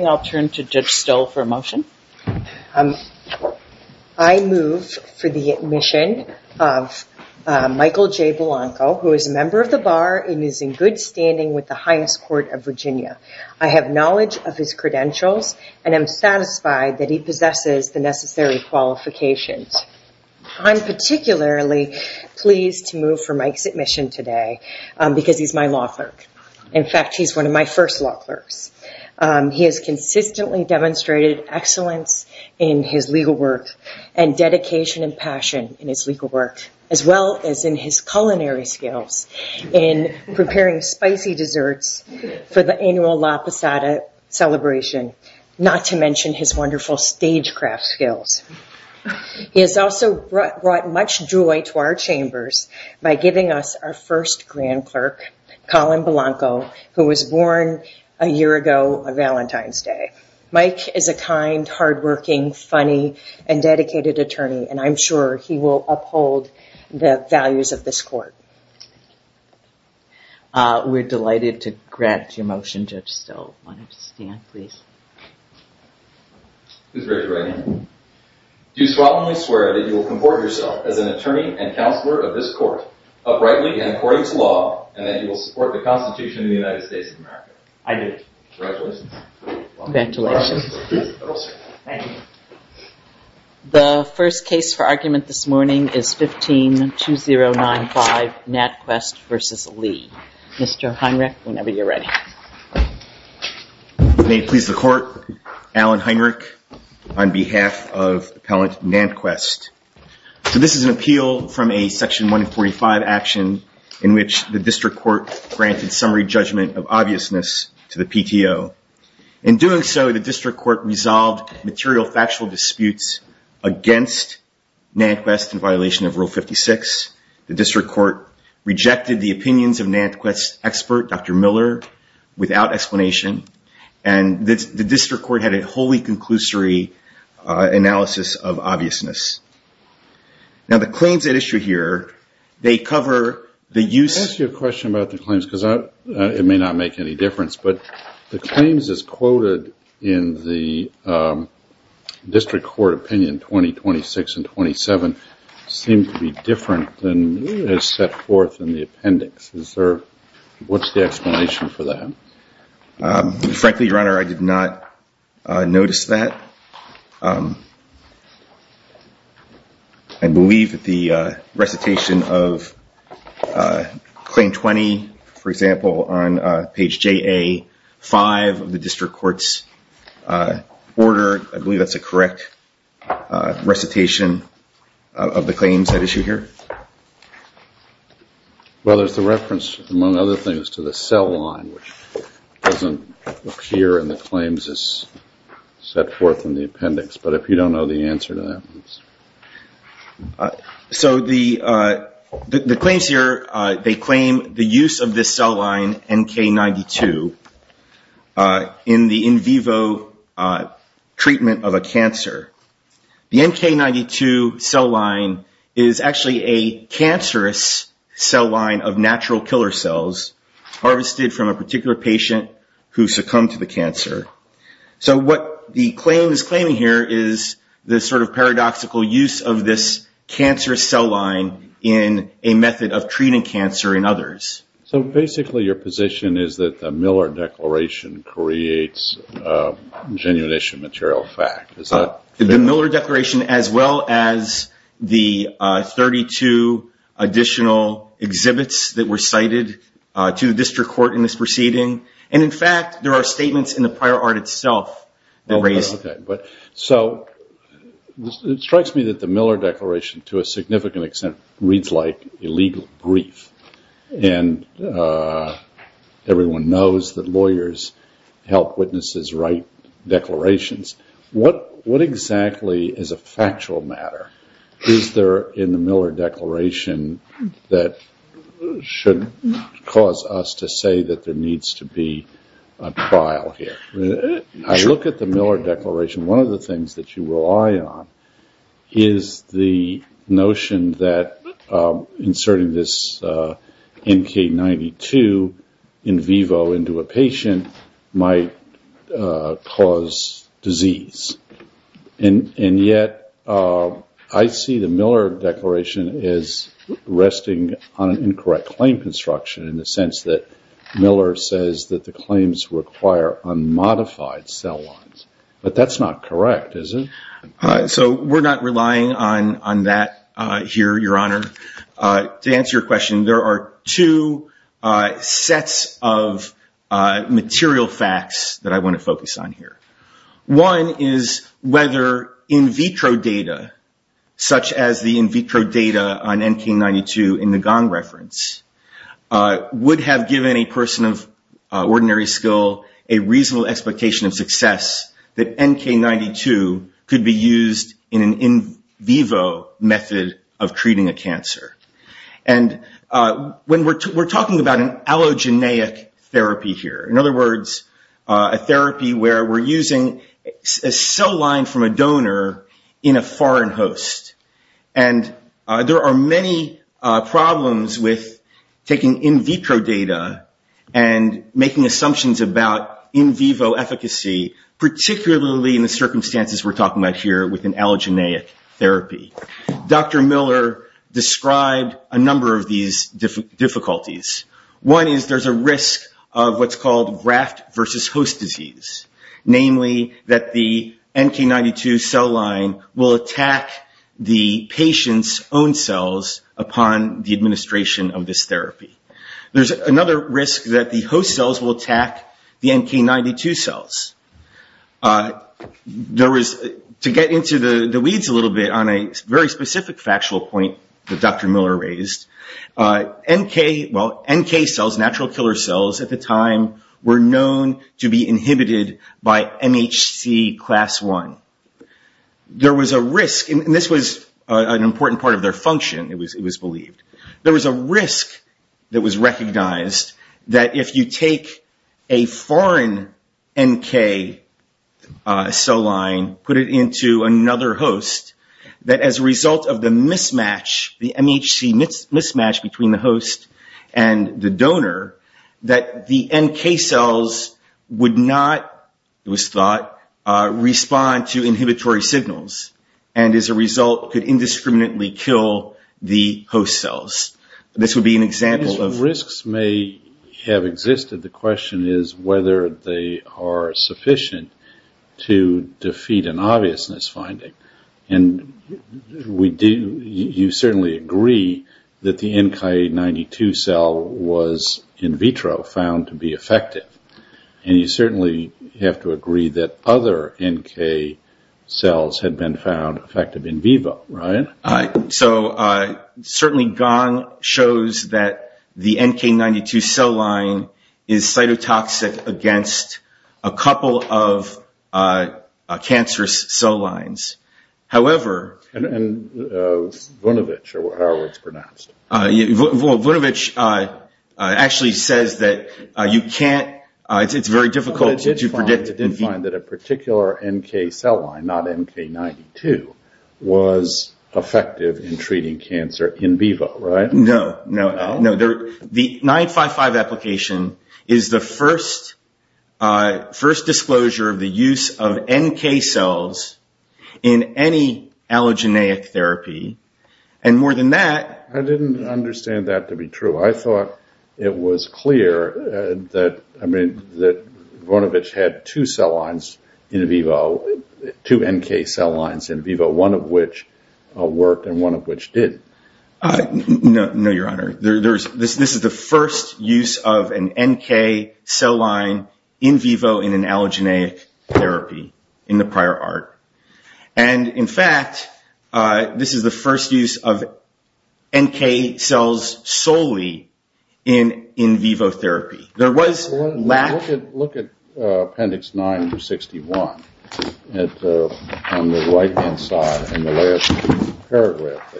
I'll turn to Judge Stoll for a motion. I move for the admission of Michael J. Blanco, who is a member of the Bar and is in good standing with the Highest Court of Virginia. I have knowledge of his credentials and am satisfied that he possesses the necessary qualifications. I'm particularly pleased to move for Mike's admission today because he's my law clerk. In fact, he's one of my first law clerks. He has consistently demonstrated excellence in his legal work and dedication and passion in his legal work, as well as in his culinary skills in preparing spicy desserts for the annual La Posada celebration, not to mention his wonderful stagecraft skills. He has also brought much joy to our chambers by giving us our first grand clerk, Colin Blanco, who was born a year ago on Valentine's Day. Mike is a kind, hardworking, funny, and dedicated attorney, and I'm sure he will uphold the values of this court. We're delighted to grant your motion, Judge Stoll. Why don't you stand, please? Please raise your right hand. Do you solemnly swear that you will comport yourself as an attorney and counselor of this Constitution of the United States of America? I do. Congratulations. Congratulations. Thank you. The first case for argument this morning is 15-2095, NatQuest v. Lee. Mr. Heinrich, whenever you're ready. May it please the court, Alan Heinrich on behalf of Appellant NatQuest. This is an appeal from a Section 145 action in which the district court granted summary judgment of obviousness to the PTO. In doing so, the district court resolved material factual disputes against NatQuest in violation of Rule 56. The district court rejected the opinions of NatQuest's expert, Dr. Miller, without explanation, and the district court had a wholly conclusory analysis of obviousness. Now, the claims at issue here, they cover the use... Let me ask you a question about the claims, because it may not make any difference, but the claims as quoted in the district court opinion 2026 and 2027 seem to be different than is set forth in the appendix. What's the explanation for that? Frankly, Your Honor, I did not notice that. I believe that the recitation of Claim 20, for example, on page JA5 of the district court's order, I believe that's a correct recitation of the claims at issue here. Well, there's the reference, among other things, to the cell line, which doesn't appear in the claims as set forth in the appendix. But if you don't know the answer to that, please. So the claims here, they claim the use of this cell line, NK92, in the in vivo treatment of a cancer. The NK92 cell line is actually a cancerous cell line of natural killer cells harvested from a particular patient who succumbed to the cancer. So what the claim is claiming here is the sort of paradoxical use of this cancerous cell line in a method of treating cancer in others. So basically your position is that the Miller Declaration creates genuine issue material fact. The Miller Declaration, as well as the 32 additional exhibits that were cited to the district court in this proceeding. And in fact, there are statements in the prior art itself that raise that. So it strikes me that the Miller Declaration, to a significant extent, reads like illegal grief. And everyone knows that lawyers help witnesses write declarations. What exactly is a factual matter is there in the Miller Declaration that should cause us to say that there needs to be a trial here? I look at the Miller Declaration, one of the things that you rely on is the notion that disease. And yet I see the Miller Declaration is resting on an incorrect claim construction in the sense that Miller says that the claims require unmodified cell lines. But that's not correct, is it? So we're not relying on that here, Your Honor. To answer your question, there are two sets of material facts that I want to focus on here. One is whether in vitro data, such as the in vitro data on NK92 in the Gong reference, would have given a person of ordinary skill a reasonable expectation of success that NK92 could be used in an in vivo method of treating a cancer. And we're talking about an allogeneic therapy here. In other words, a therapy where we're using a cell line from a donor in a foreign host. And there are many problems with taking in vitro data and making assumptions about in vivo efficacy, particularly in the circumstances we're talking about here with an allogeneic therapy. Dr. Miller described a number of these difficulties. One is there's a risk of what's called graft versus host disease. Namely, that the NK92 cell line will attack the patient's own cells upon the administration of this therapy. There's another risk that the host cells will attack the NK92 cells. To get into the weeds a little bit on a very specific factual point that Dr. Miller raised, NK cells, natural killer cells at the time, were known to be inhibited by MHC class one. There was a risk, and this was an important part of their function, it was believed. There was a risk that was recognized that if you take a foreign NK cell line, put it into another host, that as a result of the mismatch, the MHC mismatch between the host and the donor, that the NK cells would not, it was thought, respond to inhibitory signals. And as a result, could indiscriminately kill the host cells. This would be an example of... The question is whether they are sufficient to defeat an obviousness finding. And you certainly agree that the NK92 cell was in vitro found to be effective. And you certainly have to agree that other NK cells had been found effective in vivo, right? So certainly Gong shows that the NK92 cell line is cytotoxic against a couple of cancerous cell lines. However... And Vunovich, or however it's pronounced. Vunovich actually says that you can't, it's very difficult to predict... that a particular NK cell line, not NK92, was effective in treating cancer in vivo, right? No, no. The 955 application is the first disclosure of the use of NK cells in any allogeneic therapy. And more than that... I didn't understand that to be true. I thought it was clear that Vunovich had two cell lines in vivo, two NK cell lines in vivo, one of which worked and one of which didn't. No, your honor. This is the first use of an NK cell line in vivo in an allogeneic therapy in the prior art. And in fact, this is the first use of NK cells solely in vivo therapy. There was lack... Look at appendix 961 on the right-hand side in the last paragraph.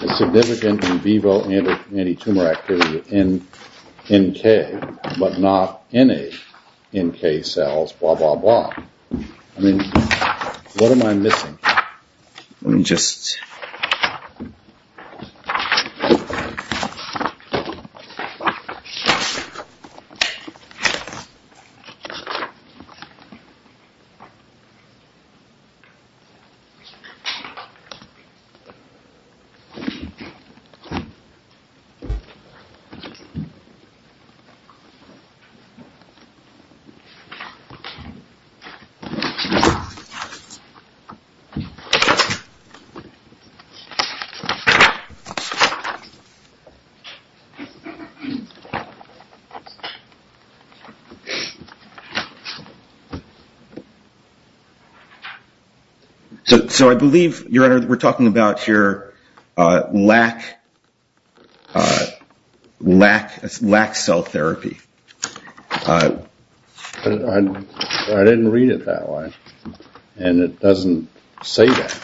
The significant in vivo antitumor activity in NK, but not any NK cells, blah, blah, blah. I mean, what am I missing? Let me just... So I believe, your honor, that we're talking about here lack cell therapy. I didn't read it that way, and it doesn't say that.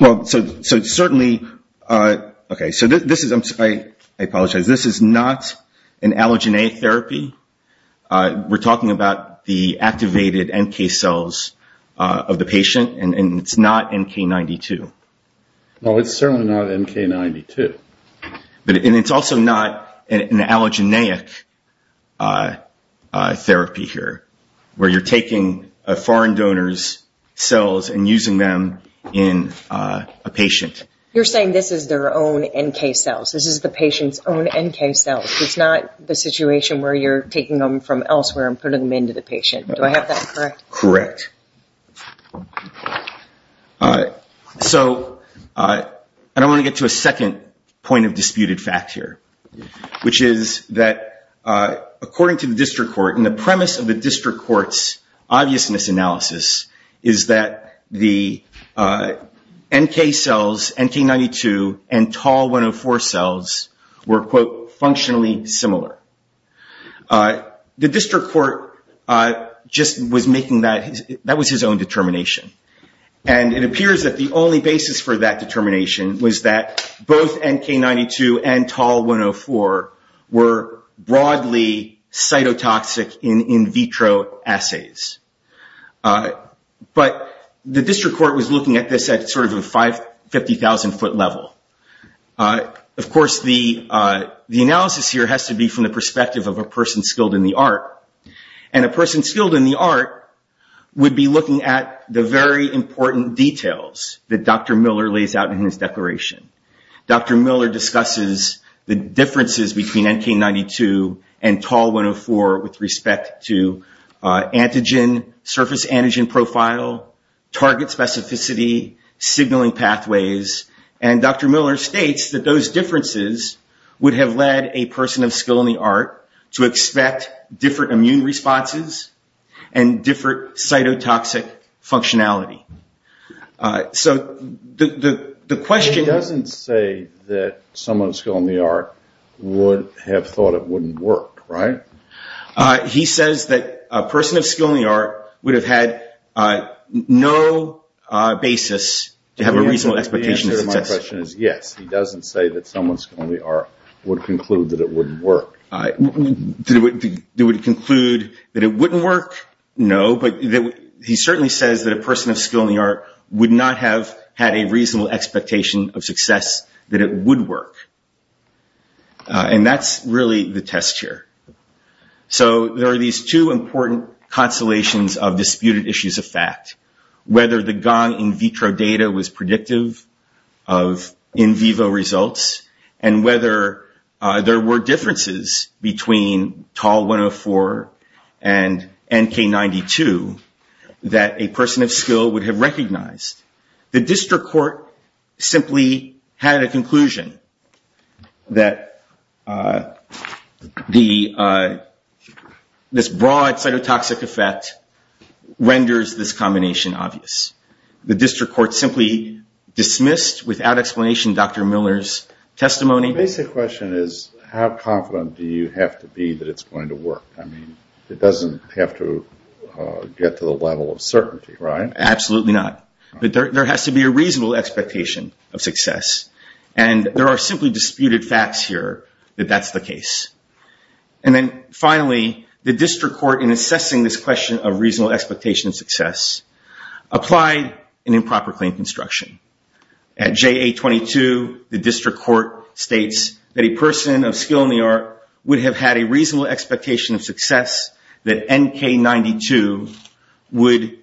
Well, so certainly... Okay, so this is... I apologize. This is not an allogeneic therapy. We're talking about the activated NK cells of the patient, and it's not NK92. Well, it's certainly not NK92. And it's also not an allogeneic therapy here, where you're taking a foreign donor's cells and using them in a patient. You're saying this is their own NK cells. This is the patient's own NK cells. It's not the situation where you're taking them from elsewhere and putting them into the patient. Do I have that correct? Correct. So I want to get to a second point of disputed fact here, which is that according to the district court, and the premise of the district court's obviousness analysis is that the NK cells, NK92, and TAL-104 cells were, quote, functionally similar. The district court just was making that... That was his own determination. And it appears that the only basis for that determination was that both NK92 and TAL-104 were broadly cytotoxic in vitro assays. But the district court was looking at this at sort of a 50,000 foot level. Of course, the analysis here has to be from the perspective of a person skilled in the art. And a person skilled in the art would be looking at the very important details that Dr. Miller lays out in his declaration. Dr. Miller discusses the differences between NK92 and TAL-104 with respect to antigen, surface antigen profile, target specificity, signaling pathways. And Dr. Miller states that those differences would have led a person of skill in the art to expect different immune responses and different cytotoxic functionality. So the question... He doesn't say that someone skilled in the art would have thought it wouldn't work, right? He says that a person of skill in the art would have had no basis to have a reasonable expectation of success. The answer to my question is yes. He doesn't say that someone skilled in the art would conclude that it wouldn't work. They would conclude that it wouldn't work? No, but he certainly says that a person of skill in the art would not have had a reasonable expectation of success, that it would work. And that's really the test here. So there are these two important constellations of disputed issues of fact, whether the gone in vitro data was predictive of in vivo results, and whether there were differences between TAL-104 and NK-92 that a person of skill would have recognized. The district court simply had a conclusion that this broad cytotoxic effect renders this combination obvious. The district court simply dismissed, without explanation, Dr. Miller's testimony. The basic question is, how confident do you have to be that it's going to work? I mean, it doesn't have to get to the level of certainty, right? Absolutely not. But there has to be a reasonable expectation of success, and there are simply disputed facts here that that's the case. And then finally, the district court, in assessing this question of reasonable expectation of success, applied an improper claim construction. At JA-22, the district court states that a person of skill in the art would have had a reasonable expectation of success, that NK-92 would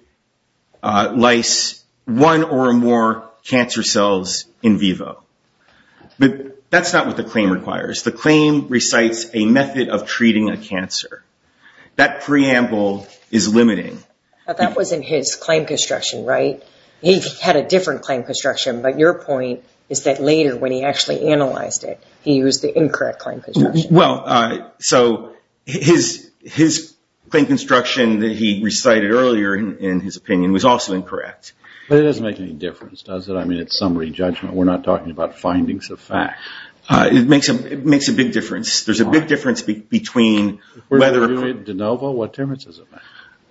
lyse one or more cancer cells in vivo. But that's not what the claim requires. The claim recites a method of treating a cancer. That preamble is limiting. But that wasn't his claim construction, right? He had a different claim construction, but your point is that later, when he actually analyzed it, he used the incorrect claim construction. Well, so his claim construction that he recited earlier in his opinion was also incorrect. But it doesn't make any difference, does it? I mean, it's summary judgment. We're not talking about findings of fact. It makes a big difference. There's a big difference between whether...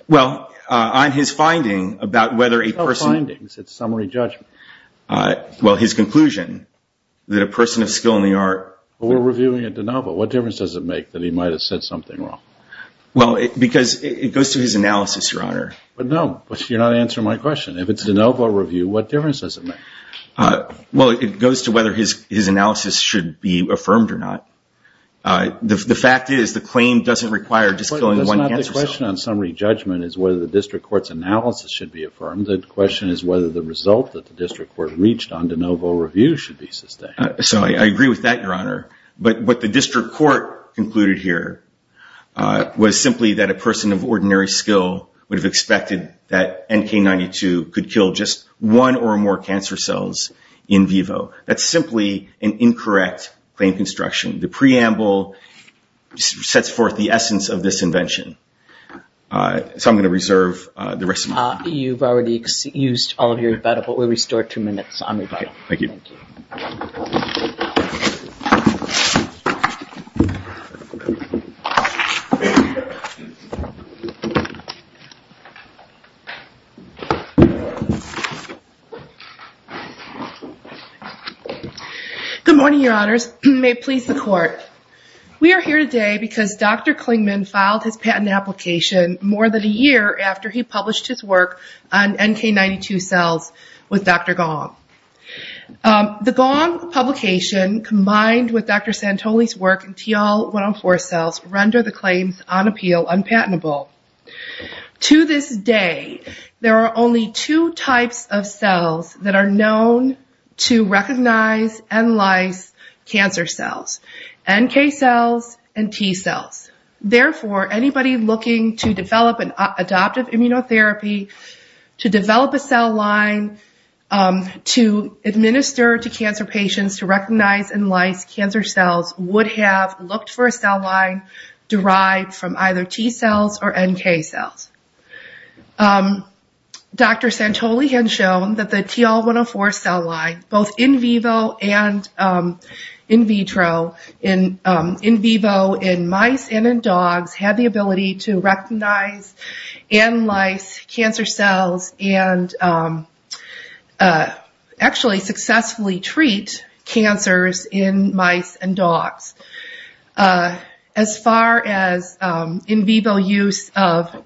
Well, on his finding about whether a person... No findings. It's summary judgment. Well, his conclusion that a person of skill in the art... Well, we're reviewing a de novo. What difference does it make that he might have said something wrong? Well, because it goes to his analysis, Your Honor. But no, you're not answering my question. If it's a de novo review, what difference does it make? Well, it goes to whether his analysis should be affirmed or not. The fact is the claim doesn't require just killing one cancer cell. The question on summary judgment is whether the district court's analysis should be affirmed. The question is whether the result that the district court reached on de novo review should be sustained. So I agree with that, Your Honor. But what the district court concluded here was simply that a person of ordinary skill would have expected that NK-92 could kill just one or more cancer cells in vivo. That's simply an incorrect claim construction. The preamble sets forth the essence of this invention. So I'm going to reserve the rest of my time. You've already used all of your time, but we'll restore two minutes on rebuttal. Thank you. Thank you. Good morning, Your Honors. May it please the court. We are here today because Dr. Klingman filed his patent application more than a year after he published his work on NK-92 cells with Dr. Gong. The Gong publication combined with Dr. Santoli's work in TL-104 cells render the claims on appeal unpatentable. To this day, there are only two types of cells that are known to recognize and lyse cancer cells, NK cells and T cells. Therefore, anybody looking to develop an adoptive immunotherapy to develop a cell line to administer to cancer patients to recognize and lyse cancer cells would have looked for a cell line derived from either T cells or NK cells. Dr. Santoli had shown that the TL-104 cell line, both in vivo and in vitro, in vivo in mice and in dogs, had the ability to recognize and lyse cancer cells and actually successfully treat cancers in mice and dogs. As far as in vivo use of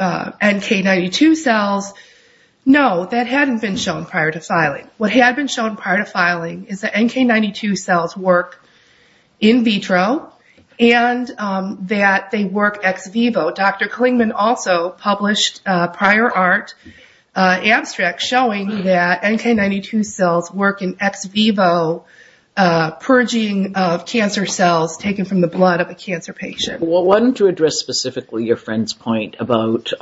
NK-92 cells, no, that hadn't been shown prior to filing. What had been shown prior to filing is that NK-92 cells work in vitro and that they work ex vivo. Dr. Klingman also published a prior art abstract showing that NK-92 cells work in ex vivo purging of cancer cells taken from the blood of a cancer patient. I wanted to address specifically your friend's point about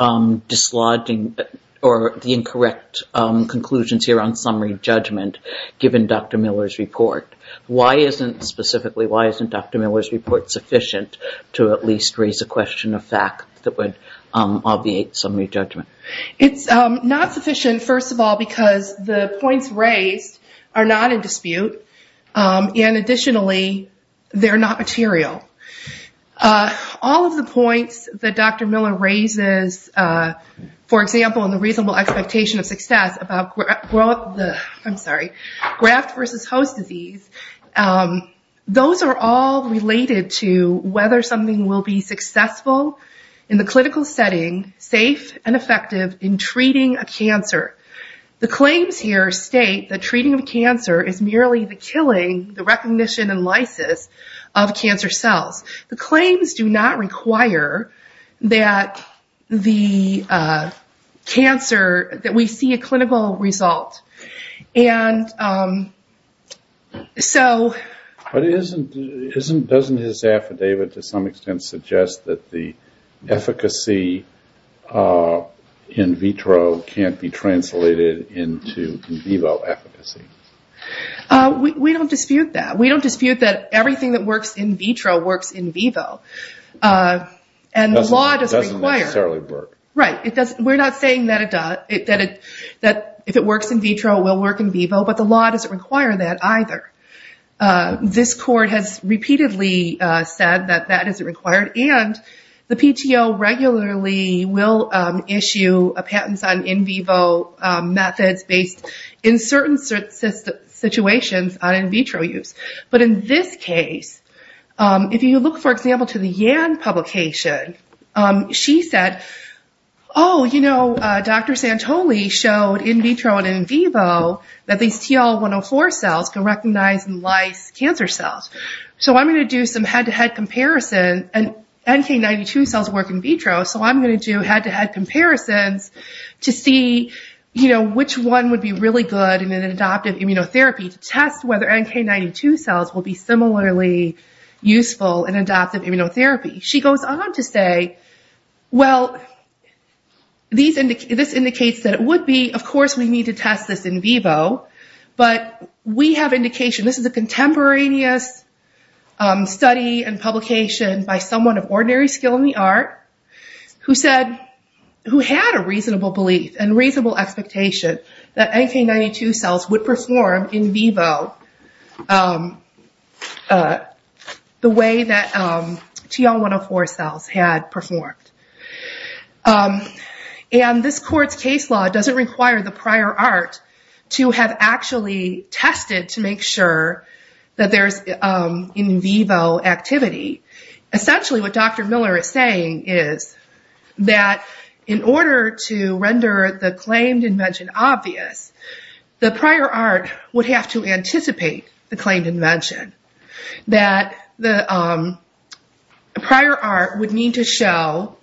dislodging or the incorrect conclusions here on summary judgment given Dr. Miller's report. Why isn't specifically, why isn't Dr. Miller's report sufficient to at least raise a question of fact that would obviate summary judgment? It's not sufficient, first of all, because the points raised are not in dispute and additionally, they're not material. All of the points that Dr. Miller raises, for example, in the reasonable expectation of success about graft versus host disease, those are all related to whether something will be successful in the clinical setting, safe and effective in treating a cancer. The claims here state that treating a cancer is merely the killing, the recognition and lysis of cancer cells. The claims do not require that the cancer, that we see a clinical result and so... But doesn't his affidavit to some extent suggest that the efficacy in vitro can't be translated into in vivo efficacy? We don't dispute that. We don't dispute that everything that works in vitro works in vivo. And the law doesn't require... Doesn't necessarily work. Right. We're not saying that if it works in vitro, it will work in vivo, but the law doesn't require that either. This court has repeatedly said that that isn't required and the PTO regularly will issue a patent on in vivo methods based in certain situations on in vitro use. But in this case, if you look, for example, to the Yann publication, she said, oh, you know, Dr. Santoli showed in vitro and in vivo that these TL104 cells can recognize and lyse cancer cells. So I'm going to do some head-to-head comparison and NK92 cells work in vitro, so I'm going to do head-to-head comparisons to see which one would be really good in an adoptive immunotherapy to test whether NK92 cells will be similarly useful in adoptive immunotherapy. She goes on to say, well, this indicates that it would be. Of course, we need to test this in vivo, but we have indication. This is a contemporaneous study and publication by someone of ordinary skill in the art who said... that NK92 cells would perform in vivo the way that TL104 cells had performed. And this court's case law doesn't require the prior art to have actually tested to make sure that there's in vivo activity. Essentially, what Dr. Miller is saying is that in order to render the claimed invention obvious, the prior art would have to anticipate the claimed invention, that the prior art would need to show,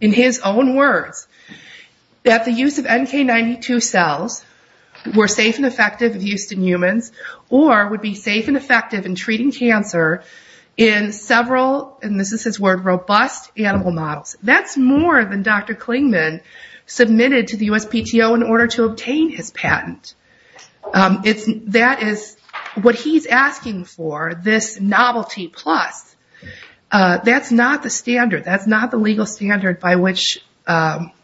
in his own words, that the use of NK92 cells were safe and robust animal models. That's more than Dr. Klingman submitted to the USPTO in order to obtain his patent. That is what he's asking for, this novelty plus. That's not the standard. That's not the legal standard by which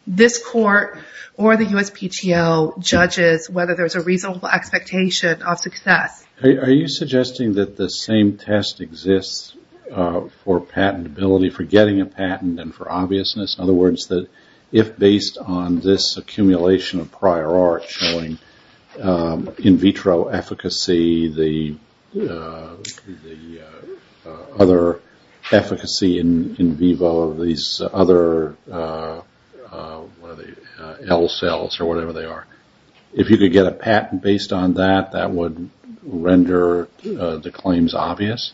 this court or the USPTO judges whether there's a reasonable expectation of success. Are you suggesting that the same test exists for patentability, for getting a patent, and for obviousness? In other words, that if based on this accumulation of prior art showing in vitro efficacy, the other efficacy in vivo, these other L cells or whatever they are, if you could get a patent based on that, that would render the claims obvious?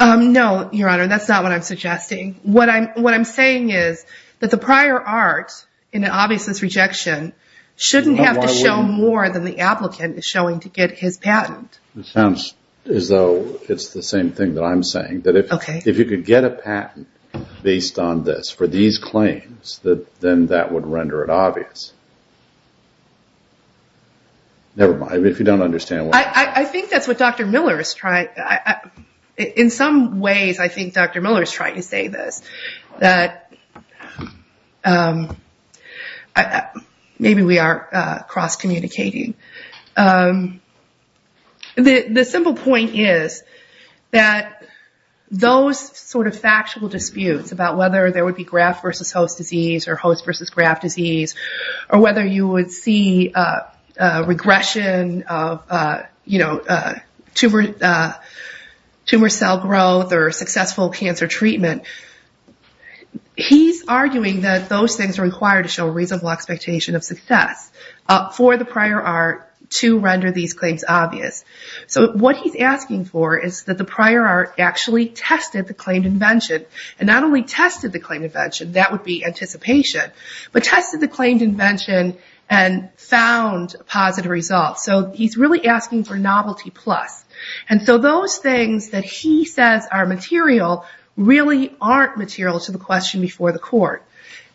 No, Your Honor, that's not what I'm suggesting. What I'm saying is that the prior art in an obviousness rejection shouldn't have to show more than the applicant is showing to get his patent. It sounds as though it's the same thing that I'm saying, that if you could get a patent based on this for these claims, then that would render it obvious. Never mind, if you don't understand what I'm saying. I think that's what Dr. Miller is trying. In some ways, I think Dr. Miller is trying to say this, that maybe we are cross communicating. The simple point is that those sort of factual disputes about whether there would be graft versus host disease or host versus graft disease, or whether you would see regression of tumor cell growth or successful cancer treatment, he's arguing that those things are required to show reasonable expectation of success for the prior art to render these claims obvious. What he's asking for is that the prior art actually tested the claimed invention, and not only tested the claimed invention, that would be anticipation, but tested the claimed invention and found positive results. He's really asking for novelty plus. Those things that he says are material, really aren't material to the question before the court.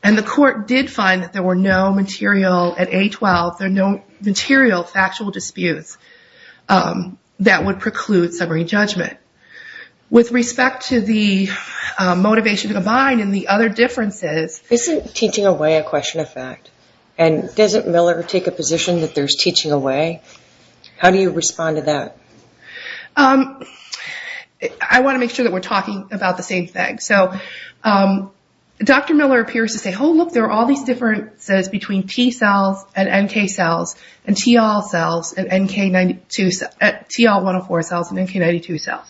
The court did find that there were no material, at A12, there were no material factual disputes that would preclude summary judgment. With respect to the motivation combined and the other differences... Isn't teaching away a question of fact? Doesn't Miller take a position that there's teaching away? How do you respond to that? I want to make sure that we're talking about the same thing. Dr. Miller appears to say, oh look, there are all these differences between T cells and NK cells and TL cells and NK92...TL104 cells and NK92 cells.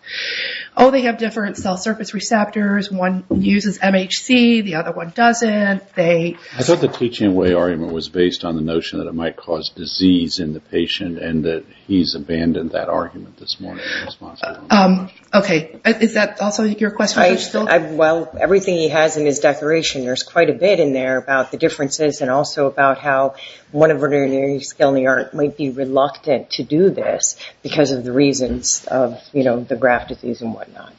Oh, they have different cell surface receptors. One uses MHC, the other one doesn't. I thought the teaching away argument was based on the notion that it might cause disease in the patient, and that he's abandoned that argument this morning. Okay. Is that also your question? Well, everything he has in his declaration, there's quite a bit in there about the differences, and also about how one of ordinary skill in the art might be reluctant to do this because of the reasons of the graft disease and whatnot.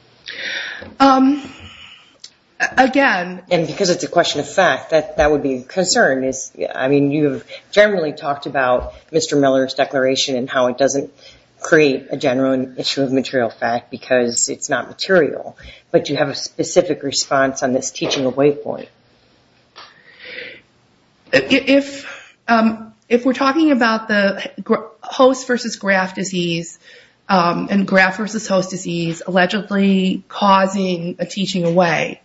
Again... And because it's a question of fact, that would be a concern. You've generally talked about Mr. Miller's declaration and how it doesn't create a general issue of material fact because it's not material, but you have a specific response on this teaching away point. If we're talking about the host versus graft disease and graft versus host disease allegedly causing a teaching away,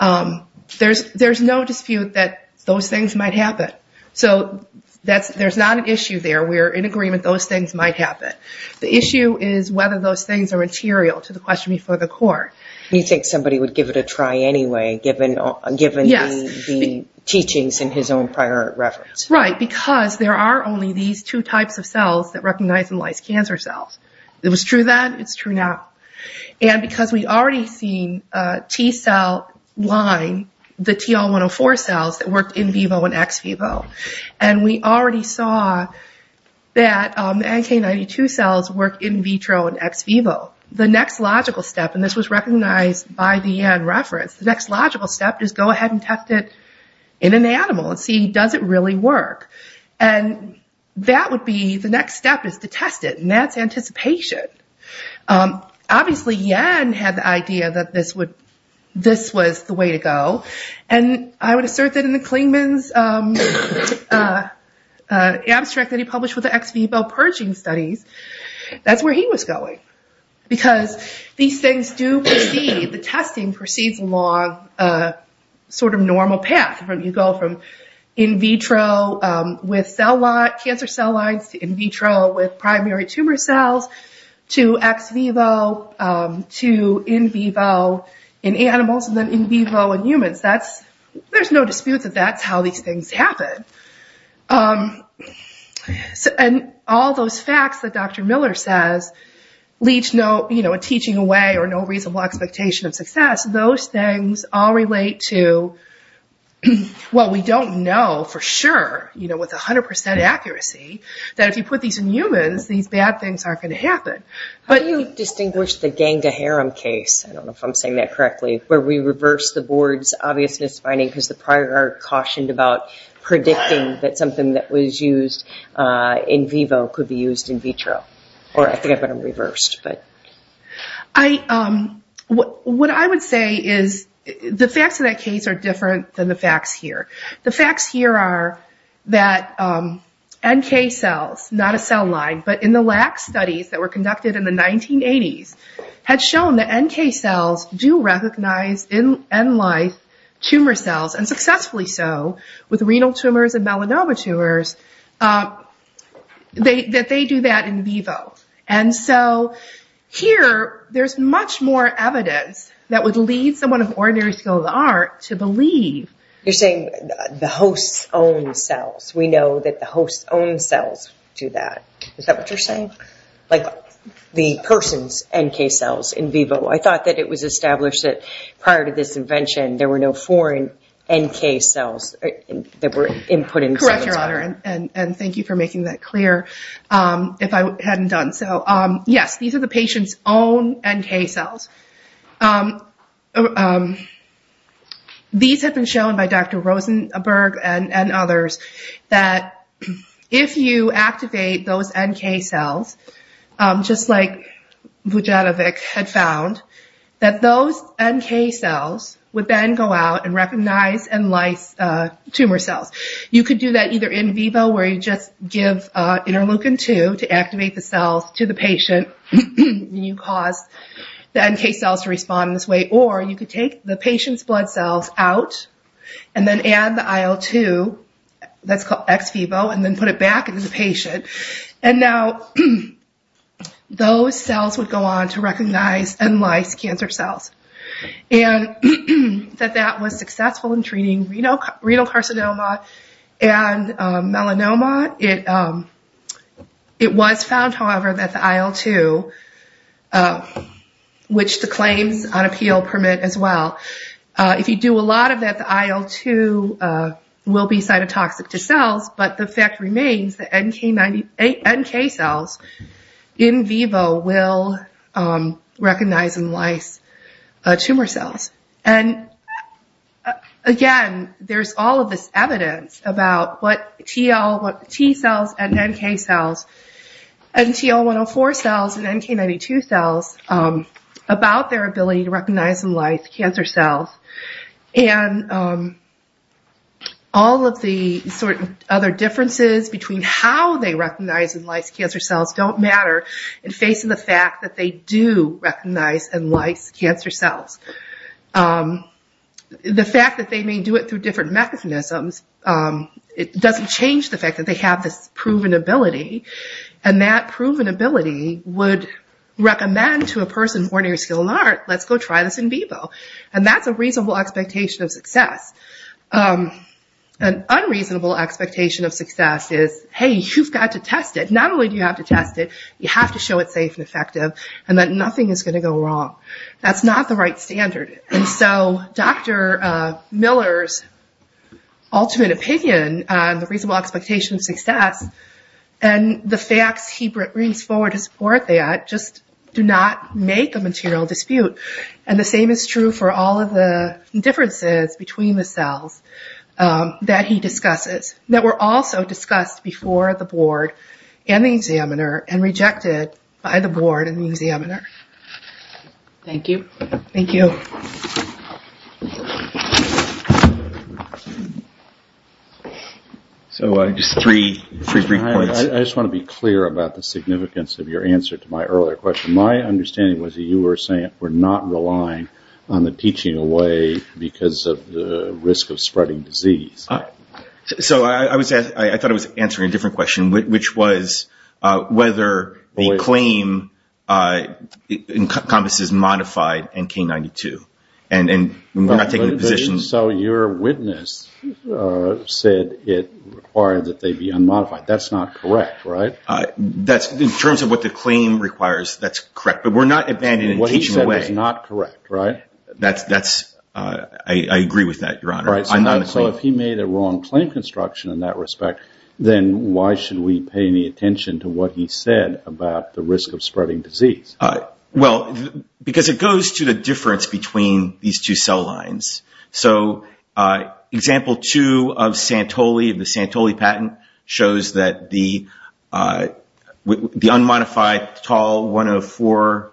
there's no dispute that those things might happen. So there's not an issue there. We're in agreement those things might happen. The issue is whether those things are material to the question before the court. You think somebody would give it a try anyway, given the teachings in his own prior reference? Right, because there are only these two types of cells that recognize and lyse cancer cells. If it's true then, it's true now. And because we've already seen T cell line, the TL104 cells that worked in vivo and ex vivo, and we already saw that NK92 cells work in vitro and ex vivo. The next logical step, and this was recognized by the Yen reference, the next logical step is go ahead and test it in an animal and see, does it really work? And that would be the next step is to test it, and that's anticipation. Obviously, Yen had the idea that this was the way to go, and I would assert that in the Klingman's abstract that he published with the ex vivo purging studies, that's where he was going. Because these things do proceed, the testing proceeds along a sort of normal path. You go from in vitro with cancer cell lines, to in vitro with primary tumor cells, to ex vivo, to in vivo in animals, and then in vivo in humans. There's no dispute that that's how these things happen. And all those facts that Dr. Miller says leads to a teaching away or no reasonable expectation of success, those things all relate to what we don't know for sure with 100% accuracy, that if you put these in humans, these bad things aren't going to happen. How do you distinguish the Ganga-Haram case, I don't know if I'm saying that correctly, where we reverse the board's obviousness finding because the prior art cautioned about predicting that something that was used in vivo could be used in vitro, or I think I put them reversed. What I would say is the facts of that case are different than the facts here. The facts here are that NK cells, not a cell line, but in the LAC studies that were conducted in the 1980s, had shown that NK cells do recognize in N life tumor cells, and successfully so, with renal tumors and melanoma tumors, that they do that in vivo. And so here there's much more evidence that would lead someone of ordinary skill of the art to believe. You're saying the hosts own cells, we know that the hosts own cells do that, is that what you're saying? Like the person's NK cells in vivo. I thought that it was established that prior to this invention, there were no foreign NK cells that were input in. Correct, Your Honor, and thank you for making that clear, if I hadn't done so. Yes, these are the patient's own NK cells. These have been shown by Dr. Rosenberg and others, that if you activate those NK cells, just like Vujetovic had found, that those NK cells would then go out and recognize N life tumor cells. You could do that either in vivo, where you just give interleukin-2 to activate the cells to the patient, and you cause the NK cells to respond this way, or you could take the patient's blood cells out, and then add the IL-2, that's called ex vivo, and then put it back into the patient. And now those cells would go on to recognize N life cancer cells. And that that was successful in treating renal carcinoma and melanoma. It was found, however, that the IL-2, which the claims on appeal permit as well, if you do a lot of that, the IL-2 will be cytotoxic to cells, but the fact remains that NK cells in vivo will recognize N life tumor cells. And again, there's all of this evidence about what T cells and NK cells, and TL-104 cells and NK-92 cells, about their ability to recognize N life cancer cells. And all of the sort of other differences between how they recognize N life cancer cells don't matter, in facing the fact that they do recognize N life cancer cells. The fact that they may do it through different mechanisms, it doesn't change the fact that they have this proven ability, and that proven ability would recommend to a person with ordinary skill in art, let's go try this in vivo. And that's a reasonable expectation of success. An unreasonable expectation of success is, hey, you've got to test it. Not only do you have to test it, you have to show it's safe and effective, and that nothing is going to go wrong. That's not the right standard. And so Dr. Miller's ultimate opinion on the reasonable expectation of success, and the facts he brings forward to support that, just do not make a material dispute. And the same is true for all of the differences between the cells that he discusses, that were also discussed before the board and the examiner, and rejected by the board and the examiner. Thank you. Thank you. Just three quick points. I just want to be clear about the significance of your answer to my earlier question. My understanding was that you were saying we're not relying on the teaching away because of the risk of spreading disease. So I thought I was answering a different question, which was whether the claim encompasses modified NK92. So your witness said it required that they be unmodified. That's not correct, right? In terms of what the claim requires, that's correct. But we're not abandoning teaching away. What he said is not correct, right? I agree with that, Your Honor. So if he made a wrong claim construction in that respect, then why should we pay any attention to what he said about the risk of spreading disease? Well, because it goes to the difference between these two cell lines. So example two of Santoli, the Santoli patent, shows that the unmodified tall 104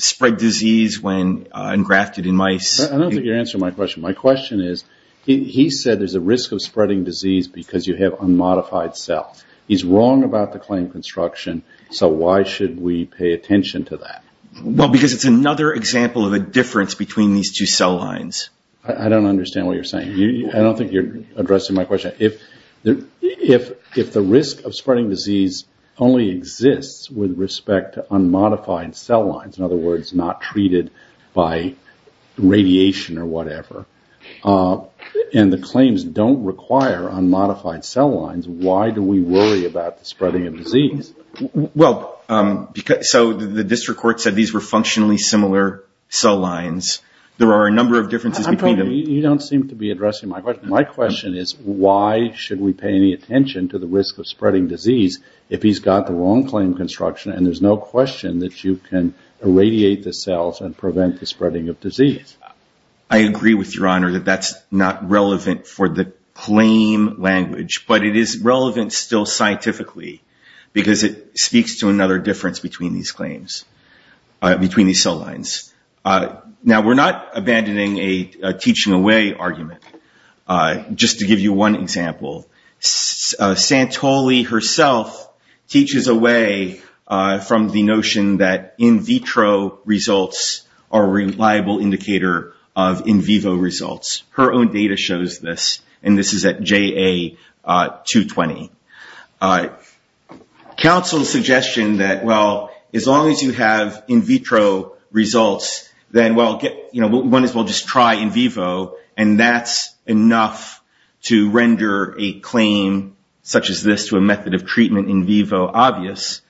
spread disease when engrafted in mice. I don't think you're answering my question. My question is, he said there's a risk of spreading disease because you have unmodified cells. He's wrong about the claim construction, so why should we pay attention to that? Well, because it's another example of a difference between these two cell lines. I don't understand what you're saying. I don't think you're addressing my question. If the risk of spreading disease only exists with respect to unmodified cell lines, in other words, not treated by radiation or whatever, and the claims don't require unmodified cell lines, why do we worry about the spreading of disease? Well, so the district court said these were functionally similar cell lines. There are a number of differences between them. You don't seem to be addressing my question. My question is, why should we pay any attention to the risk of spreading disease if he's got the wrong claim construction, and there's no question that you can irradiate the cells and prevent the spreading of disease? I agree with Your Honor that that's not relevant for the claim language, but it is relevant still scientifically because it speaks to another difference between these claims, between these cell lines. Now, we're not abandoning a teaching away argument. Just to give you one example, Santoli herself teaches away from the notion that in vitro results are a reliable indicator of in vivo results. Her own data shows this, and this is at JA220. Counsel's suggestion that, well, as long as you have in vitro results, then one is, well, just try in vivo, and that's enough to render a claim such as this to a method of treatment in vivo obvious.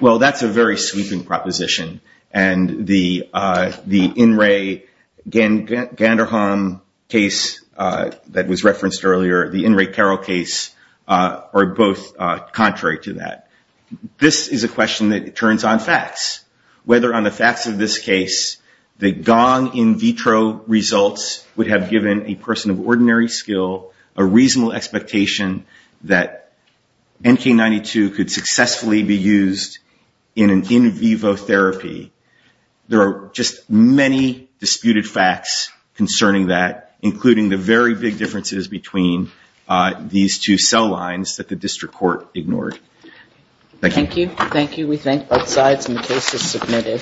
Well, that's a very sweeping proposition, and the In Re Ganderholm case that was referenced earlier, the In Re Carroll case, are both contrary to that. This is a question that turns on facts. Whether on the facts of this case, the gong in vitro results would have given a person of ordinary skill a reasonable expectation that NK92 could successfully be used in an in vivo therapy. There are just many disputed facts concerning that, including the very big differences between these two cell lines that the district court ignored. Thank you. Thank you. We thank both sides, and the case is submitted.